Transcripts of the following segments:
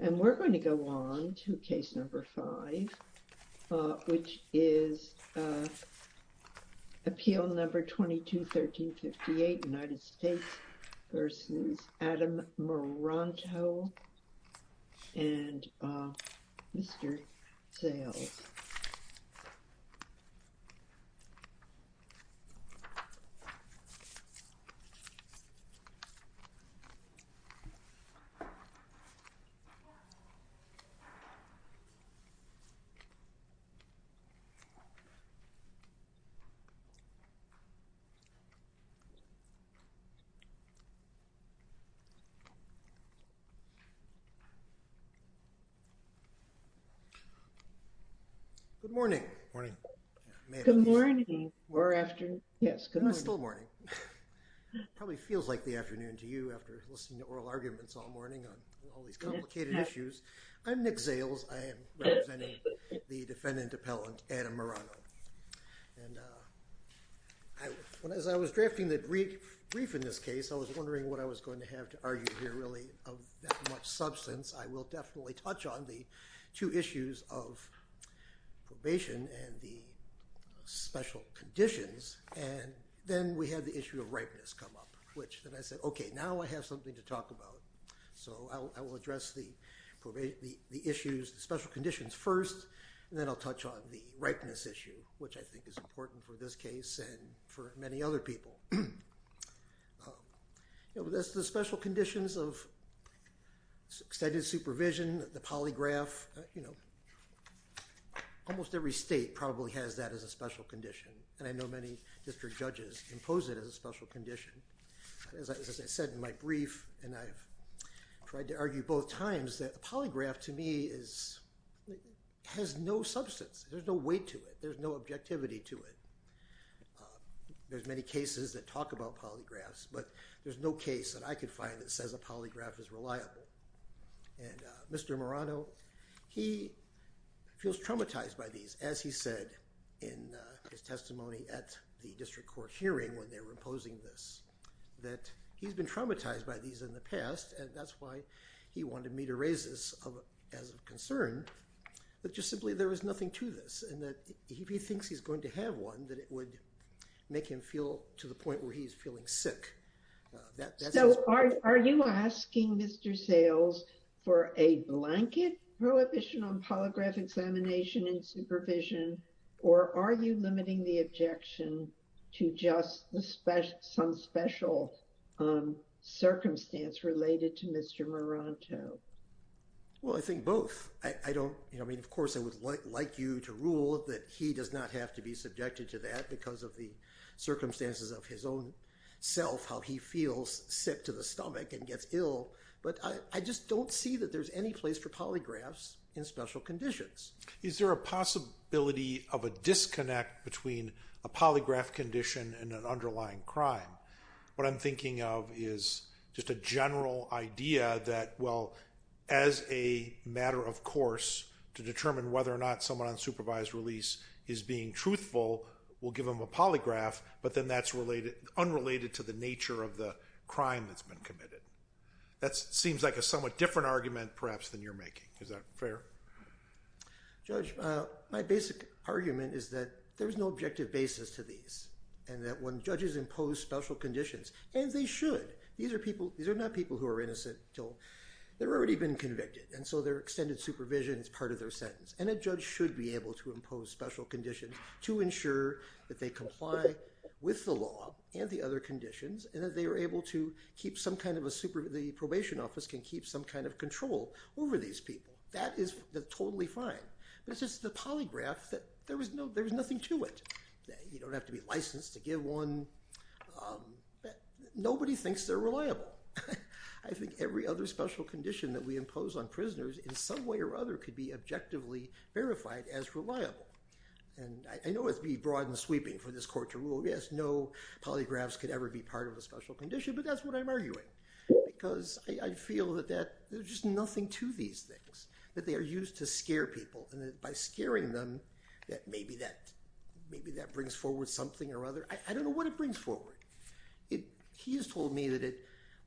And we're going to go on to case number five, which is Appeal Number 22-1358, United States v. Adam Maranto and Mr. Zales. Good morning or afternoon. Yes, good morning. Still morning. Probably feels like the afternoon to you after listening to oral arguments all morning on all these complicated issues. I'm Nick Zales. I am representing the defendant appellant Adam Maranto. And as I was drafting the brief in this case, I was wondering what I was going to have to argue here really of that much substance. I will definitely touch on the two issues of probation and the special conditions. And then we had the issue of ripeness come up, which then I said, okay, now I have something to talk about. So I will address the issues, the special conditions first, and then I'll touch on the ripeness issue, which I think is important for this case and for many other people. That's the special conditions of extended supervision, the polygraph. Almost every state probably has that as a special condition, and I know many district judges impose it as a special condition. As I said in my brief, and I've tried to argue both times, that the polygraph to me has no substance. There's no weight to it. There's no objectivity to it. There's many cases that talk about polygraphs, but there's no case that I could find that says a polygraph is reliable. And Mr. Marano, he feels traumatized by these, as he said in his testimony at the district court hearing when they were imposing this, that he's been traumatized by these in the past, and that's why he wanted me to raise this as a concern, that just simply there was nothing to this, and that if he thinks he's going to have one, that it would make him feel to the point where he's feeling sick. So are you asking Mr. Sales for a blanket prohibition on polygraph examination and supervision, or are you limiting the objection to just some special circumstance related to Mr. Marano? Well, I think both. Of course, I would like you to rule that he does not have to be subjected to that because of the circumstances of his own self, how he feels sick to the stomach and gets ill, but I just don't see that there's any place for polygraphs in special conditions. Is there a possibility of a disconnect between a polygraph condition and an underlying crime? What I'm thinking of is just a general idea that, well, as a matter of course to determine whether or not someone on supervised release is being truthful, we'll give them a polygraph, but then that's unrelated to the nature of the crime that's been committed. That seems like a somewhat different argument, perhaps, than you're making. Is that fair? Judge, my basic argument is that there's no objective basis to these, and that when judges impose special conditions, and they should. These are not people who are innocent until they've already been convicted, and so their extended supervision is part of their sentence. And a judge should be able to impose special conditions to ensure that they comply with the law and the other conditions, and that they are able to keep some kind of—the probation office can keep some kind of control over these people. That is totally fine, but it's just the polygraph, there's nothing to it. You don't have to be licensed to give one. Nobody thinks they're reliable. I think every other special condition that we impose on prisoners in some way or other could be objectively verified as reliable. And I know it's broad and sweeping for this court to rule, yes, no polygraphs could ever be part of a special condition, but that's what I'm arguing. Because I feel that there's just nothing to these things, that they are used to scare people, and that by scaring them, that maybe that brings forward something or other—I don't know what it brings forward. He has told me that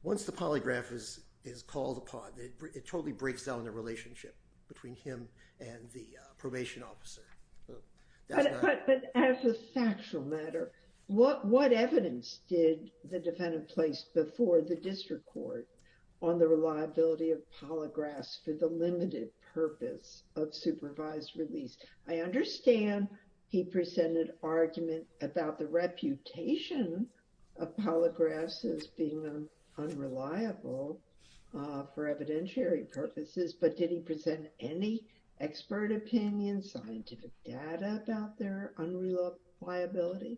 once the polygraph is called upon, it totally breaks down the relationship between him and the probation officer. But as a factual matter, what evidence did the defendant place before the district court on the reliability of polygraphs for the limited purpose of supervised release? I understand he presented argument about the reputation of polygraphs as being unreliable for evidentiary purposes, but did he present any expert opinion, scientific data about their unreliability?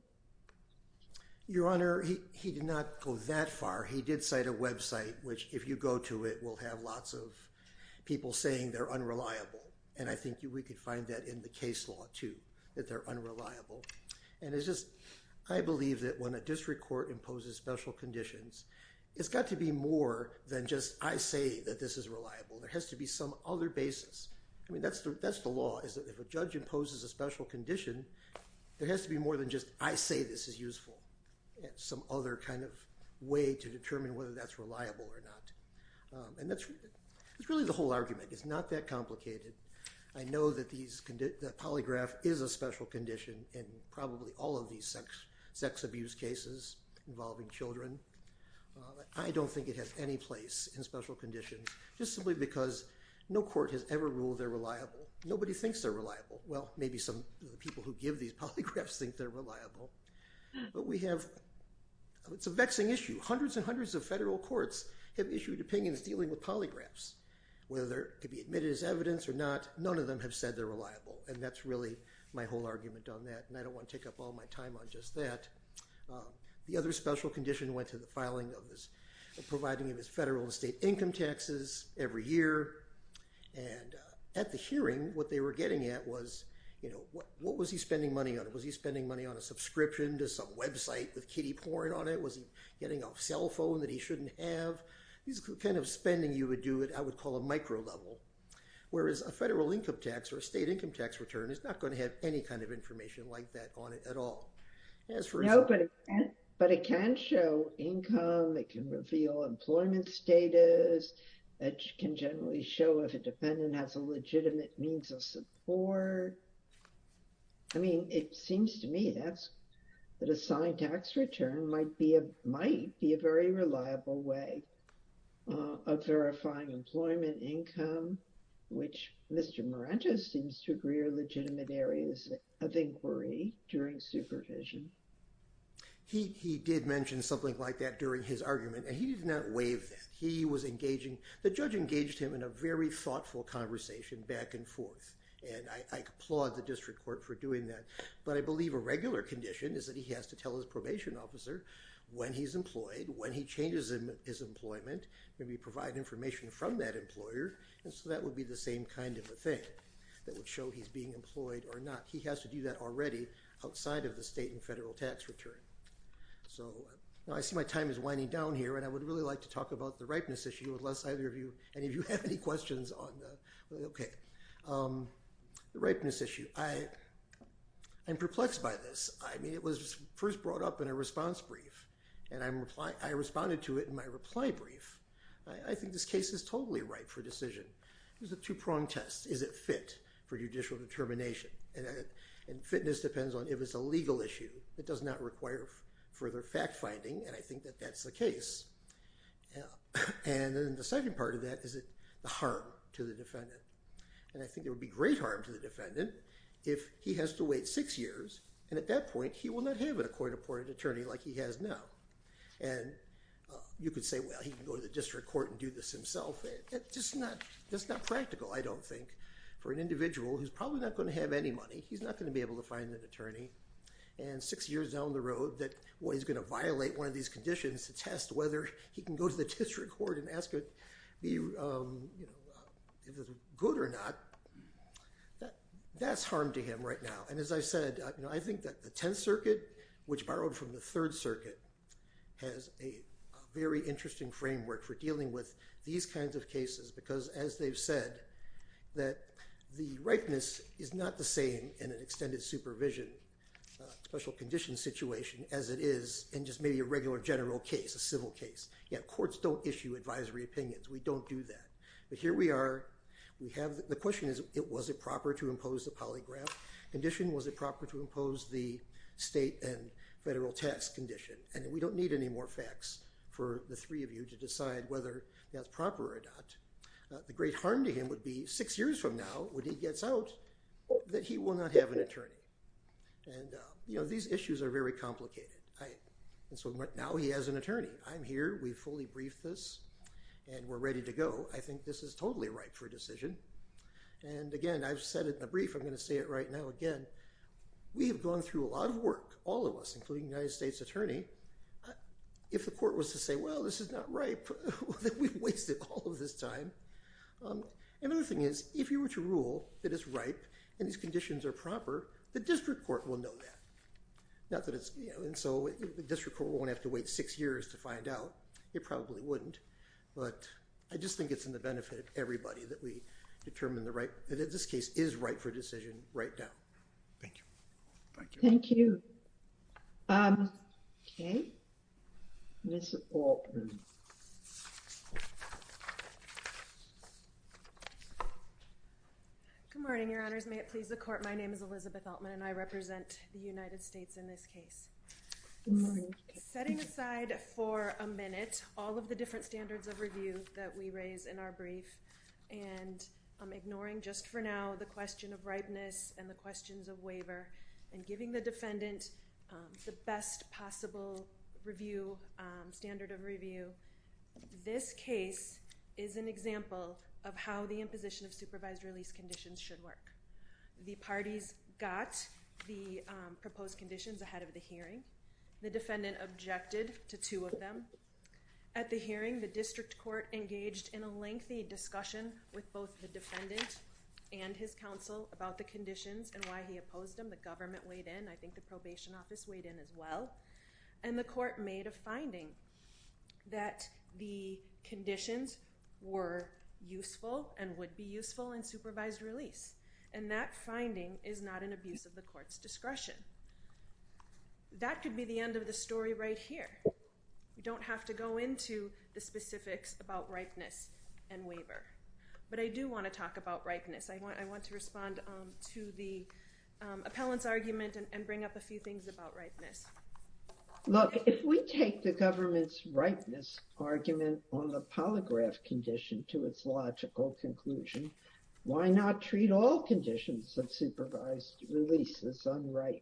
Your Honor, he did not go that far. He did cite a website, which, if you go to it, will have lots of people saying they're unreliable. And I think we could find that in the case law, too, that they're unreliable. And it's just—I believe that when a district court imposes special conditions, it's got to be more than just, I say that this is reliable. There has to be some other basis. I mean, that's the law, is that if a judge imposes a special condition, there has to be more than just, I say this is useful, some other kind of way to determine whether that's reliable or not. And that's really the whole argument. It's not that complicated. I know that polygraph is a special condition in probably all of these sex abuse cases involving children. I don't think it has any place in special conditions, just simply because no court has ever ruled they're reliable. Nobody thinks they're reliable. Well, maybe some people who give these polygraphs think they're reliable. But we have—it's a vexing issue. Hundreds and hundreds of federal courts have issued opinions dealing with polygraphs. Whether they could be admitted as evidence or not, none of them have said they're reliable. And that's really my whole argument on that, and I don't want to take up all my time on just that. The other special condition went to the filing of this—providing of his federal and state income taxes every year. And at the hearing, what they were getting at was, you know, what was he spending money on? Was he spending money on a subscription to some website with kiddie porn on it? Was he getting a cell phone that he shouldn't have? These are the kind of spending you would do at, I would call, a micro level. Whereas a federal income tax or a state income tax return is not going to have any kind of information like that on it at all. No, but it can show income. It can reveal employment status. It can generally show if a dependent has a legitimate means of support. I mean, it seems to me that a signed tax return might be a very reliable way of verifying employment income, which Mr. Marentes seems to agree are legitimate areas of inquiry during supervision. He did mention something like that during his argument, and he did not waive that. He was engaging—the judge engaged him in a very thoughtful conversation back and forth, and I applaud the district court for doing that. But I believe a regular condition is that he has to tell his probation officer when he's employed, when he changes his employment, maybe provide information from that employer, and so that would be the same kind of a thing that would show he's being employed or not. He has to do that already outside of the state and federal tax return. So I see my time is winding down here, and I would really like to talk about the ripeness issue, unless either of you—any of you have any questions on the—okay. The ripeness issue. I am perplexed by this. I mean, it was first brought up in a response brief, and I responded to it in my reply brief. I think this case is totally ripe for decision. There's a two-prong test. Is it fit for judicial determination? And fitness depends on if it's a legal issue. It does not require further fact-finding, and I think that that's the case. And then the second part of that is the harm to the defendant. And I think there would be great harm to the defendant if he has to wait six years, and at that point he will not have a court-appointed attorney like he has now. And you could say, well, he can go to the district court and do this himself. That's just not practical, I don't think, for an individual who's probably not going to have any money. He's not going to be able to find an attorney, and six years down the road, that he's going to violate one of these conditions to test whether he can go to the district court and ask if it's good or not, that's harm to him right now. And as I said, I think that the Tenth Circuit, which borrowed from the Third Circuit, has a very interesting framework for dealing with these kinds of cases because, as they've said, that the ripeness is not the same in an extended supervision, special condition situation, as it is in just maybe a regular general case, a civil case. Courts don't issue advisory opinions. We don't do that. But here we are. The question is, was it proper to impose the polygraph condition? Was it proper to impose the state and federal test condition? And we don't need any more facts for the three of you to decide whether that's proper or not. The great harm to him would be, six years from now, when he gets out, that he will not have an attorney. And these issues are very complicated. And so now he has an attorney. I'm here. We've fully briefed this, and we're ready to go. I think this is totally ripe for a decision. And, again, I've said it in the brief. I'm going to say it right now again. We have gone through a lot of work, all of us, including the United States Attorney. If the court was to say, well, this is not ripe, then we've wasted all of this time. And the other thing is, if you were to rule that it's ripe and these conditions are proper, the district court will know that. And so the district court won't have to wait six years to find out. It probably wouldn't. But I just think it's in the benefit of everybody that we determine that this case is ripe for decision right now. Thank you. Thank you. Thank you. OK. Ms. Altman. Good morning, Your Honors. May it please the court, my name is Elizabeth Altman, and I represent the United States in this case. Good morning. Setting aside for a minute all of the different standards of review that we raise in our brief and ignoring just for now the question of ripeness and the questions of waiver and giving the defendant the best possible review standard of review, this case is an example of how the imposition of supervised release conditions should work. The parties got the proposed conditions ahead of the hearing. The defendant objected to two of them. At the hearing, the district court engaged in a lengthy discussion with both the defendant and his counsel about the conditions and why he opposed them. The government weighed in. I think the probation office weighed in as well. And the court made a finding that the conditions were useful and would be useful in supervised release. And that finding is not an abuse of the court's discretion. That could be the end of the story right here. We don't have to go into the specifics about ripeness and waiver. But I do want to talk about ripeness. I want to respond to the appellant's argument and bring up a few things about ripeness. Look, if we take the government's ripeness argument on the polygraph condition to its logical conclusion, why not treat all conditions of supervised release as unripe?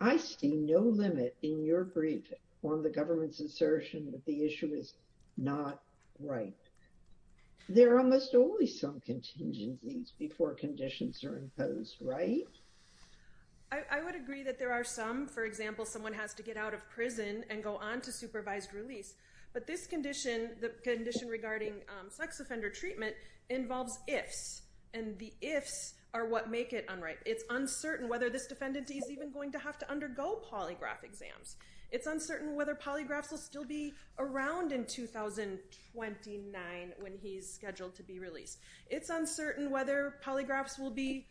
I see no limit in your briefing on the government's assertion that the issue is not ripe. There are almost always some contingencies before conditions are imposed, right? I would agree that there are some. For example, someone has to get out of prison and go on to supervised release. But this condition, the condition regarding sex offender treatment, involves ifs. And the ifs are what make it unripe. It's uncertain whether this defendant is even going to have to undergo polygraph exams. It's uncertain whether polygraphs will still be around in 2029 when he's scheduled to be released. It's uncertain whether polygraphs will be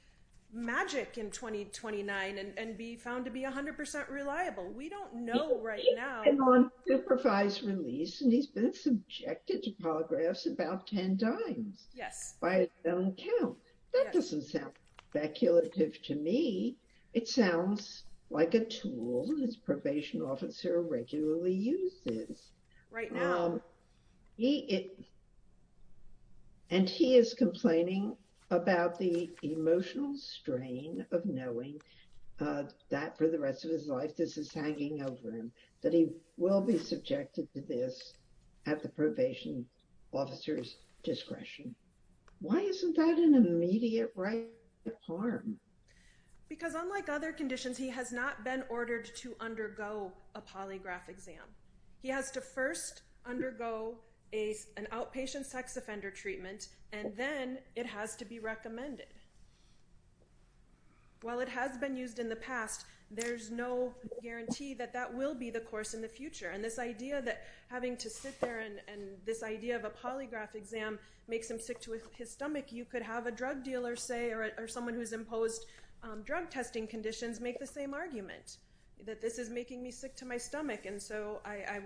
magic in 2029 and be found to be 100% reliable. We don't know right now. And on supervised release, and he's been subjected to polygraphs about 10 times. Yes. By his own count. That doesn't sound speculative to me. It sounds like a tool his probation officer regularly uses. Right now. And he is complaining about the emotional strain of knowing that for the rest of his life this is hanging over him. That he will be subjected to this at the probation officer's discretion. Why isn't that an immediate right of harm? Because unlike other conditions, he has not been ordered to undergo a polygraph exam. He has to first undergo an outpatient sex offender treatment. And then it has to be recommended. While it has been used in the past, there's no guarantee that that will be the course in the future. And this idea that having to sit there and this idea of a polygraph exam makes him sick to his stomach. You could have a drug dealer say or someone who's imposed drug testing conditions make the same argument. That this is making me sick to my stomach. And so I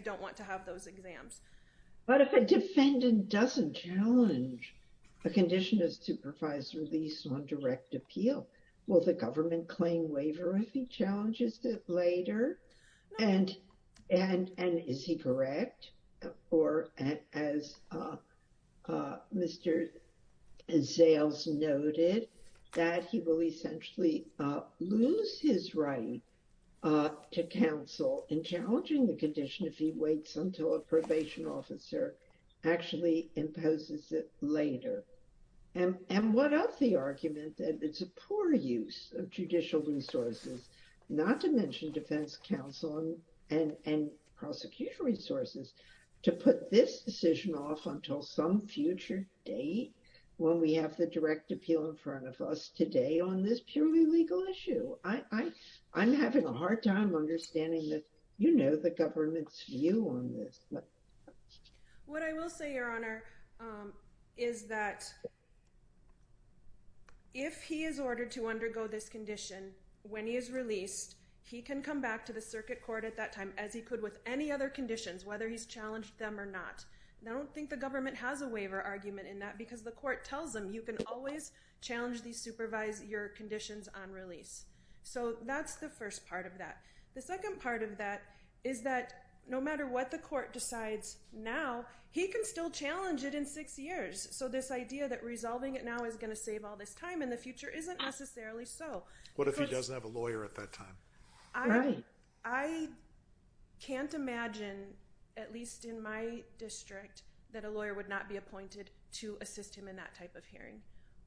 don't want to have those exams. But if a defendant doesn't challenge a condition of supervised release on direct appeal, will the government claim waiver if he challenges it later? And is he correct? Or as Mr. Zales noted, that he will essentially lose his right to counsel in challenging the condition if he waits until a probation officer actually imposes it later. And what of the argument that it's a poor use of judicial resources, not to mention defense counsel and prosecution resources, to put this decision off until some future date when we have the direct appeal in front of us today on this purely legal issue? I'm having a hard time understanding the government's view on this. What I will say, Your Honor, is that if he is ordered to undergo this condition when he is released, he can come back to the circuit court at that time as he could with any other conditions, whether he's challenged them or not. And I don't think the government has a waiver argument in that because the court tells them you can always challenge these supervised, your conditions on release. So that's the first part of that. The second part of that is that no matter what the court decides now, he can still challenge it in six years. So this idea that resolving it now is going to save all this time in the future isn't necessarily so. What if he doesn't have a lawyer at that time? I can't imagine, at least in my district, that a lawyer would not be appointed to assist him in that type of hearing.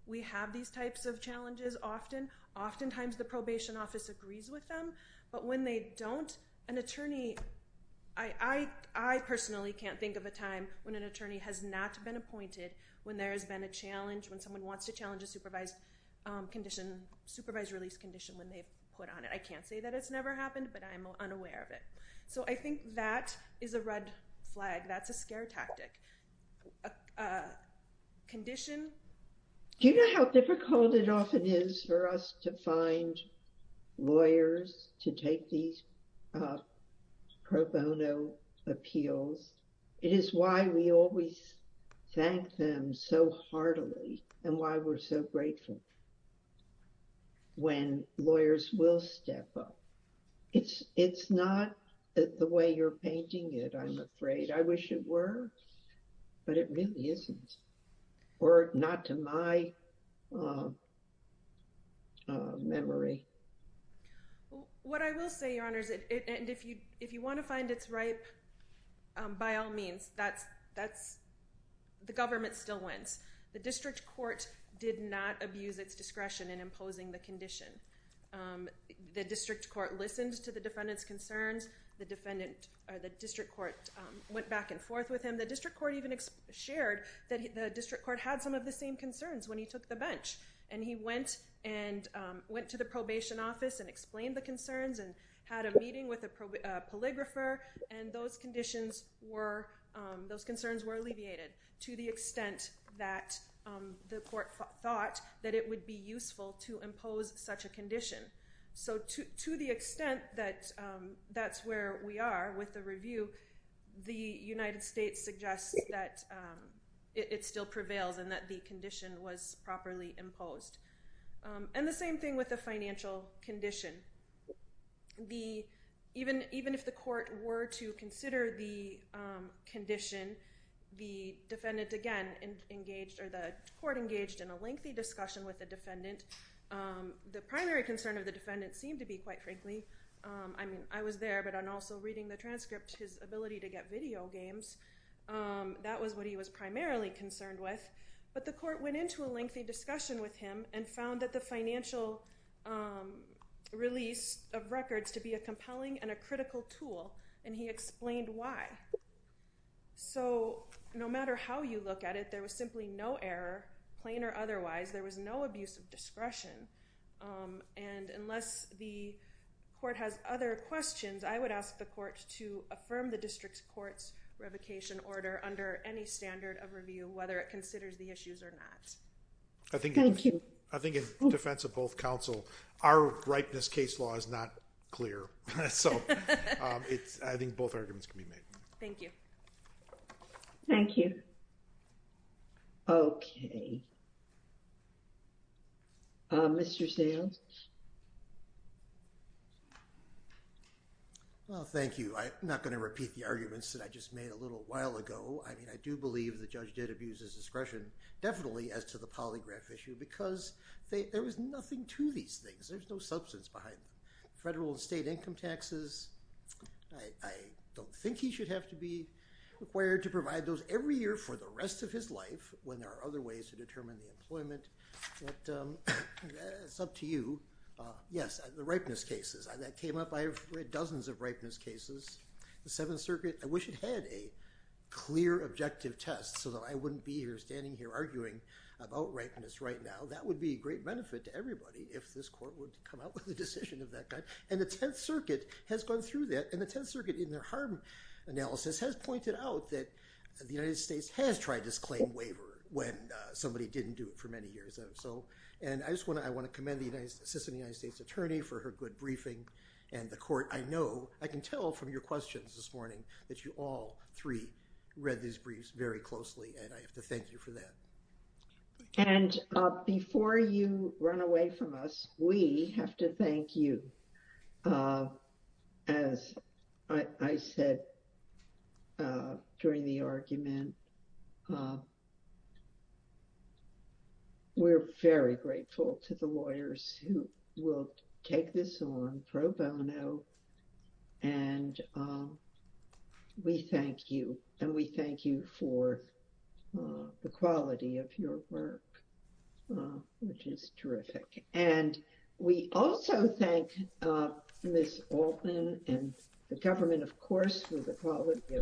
We have these types of challenges often. Oftentimes the probation office agrees with them. But when they don't, an attorney, I personally can't think of a time when an attorney has not been appointed, when there has been a challenge, when someone wants to challenge a supervised release condition when they've put on it. I can't say that it's never happened, but I'm unaware of it. So I think that is a red flag. That's a scare tactic. Do you know how difficult it often is for us to find lawyers to take these pro bono appeals? It is why we always thank them so heartily and why we're so grateful when lawyers will step up. It's not the way you're painting it, I'm afraid. I wish it were, but it really isn't. Or not to my memory. What I will say, Your Honors, and if you want to find it's ripe, by all means, the government still wins. The district court did not abuse its discretion in imposing the condition. The district court listened to the defendant's concerns. The district court went back and forth with him. The district court even shared that the district court had some of the same concerns when he took the bench. And he went to the probation office and explained the concerns and had a meeting with a polygrapher, and those concerns were alleviated to the extent that the court thought that it would be useful to impose such a condition. So to the extent that that's where we are with the review, the United States suggests that it still prevails and that the condition was properly imposed. And the same thing with the financial condition. Even if the court were to consider the condition, the defendant again engaged, or the court engaged in a lengthy discussion with the defendant. The primary concern of the defendant seemed to be, quite frankly, I mean, I was there, but I'm also reading the transcript, his ability to get video games. That was what he was primarily concerned with. But the court went into a lengthy discussion with him and found that the financial release of records to be a compelling and a critical tool, and he explained why. So no matter how you look at it, there was simply no error, plain or otherwise. There was no abuse of discretion. And unless the court has other questions, I would ask the court to affirm the district's court's revocation order under any standard of review, whether it considers the issues or not. Thank you. I think in defense of both counsel, our ripeness case law is not clear. So I think both arguments can be made. Thank you. Thank you. Okay. Mr. Sands? Well, thank you. I'm not going to repeat the arguments that I just made a little while ago. I mean, I do believe the judge did abuse his discretion, definitely as to the polygraph issue, because there was nothing to these things. There's no substance behind them. Federal and state income taxes, I don't think he should have to be required to provide those every year for the rest of his life when there are other ways to determine the employment. But it's up to you. Yes, the ripeness cases, that came up. I've read dozens of ripeness cases. The Seventh Circuit, I wish it had a clear objective test so that I wouldn't be here standing here arguing about ripeness right now. That would be a great benefit to everybody if this court would come out with a decision of that kind. And the Tenth Circuit has gone through that. And the Tenth Circuit, in their harm analysis, has pointed out that the United States has tried this claim waiver when somebody didn't do it for many years. And I want to commend the Assistant United States Attorney for her good briefing. And the court, I know, I can tell from your questions this morning that you all three read these briefs very closely, and I have to thank you for that. And before you run away from us, we have to thank you. As I said during the argument, we're very grateful to the lawyers who will take this on pro bono. And we thank you. And we thank you for the quality of your work, which is terrific. And we also thank Ms. Altman and the government, of course, for the quality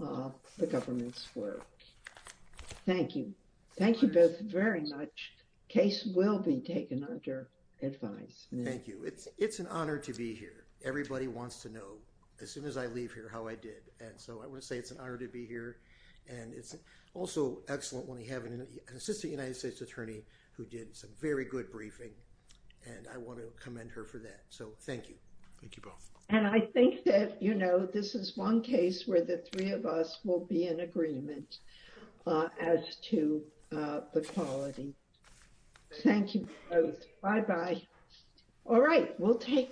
of the government's work. Thank you. Thank you both very much. Case will be taken under advice. Thank you. It's an honor to be here. Everybody wants to know, as soon as I leave here, how I did. And so I want to say it's an honor to be here. And it's also excellent when we have an Assistant United States Attorney who did some very good briefing. And I want to commend her for that. So thank you. Thank you both. And I think that, you know, this is one case where the three of us will be in agreement as to the quality. Thank you both. Bye-bye. All right. We'll take.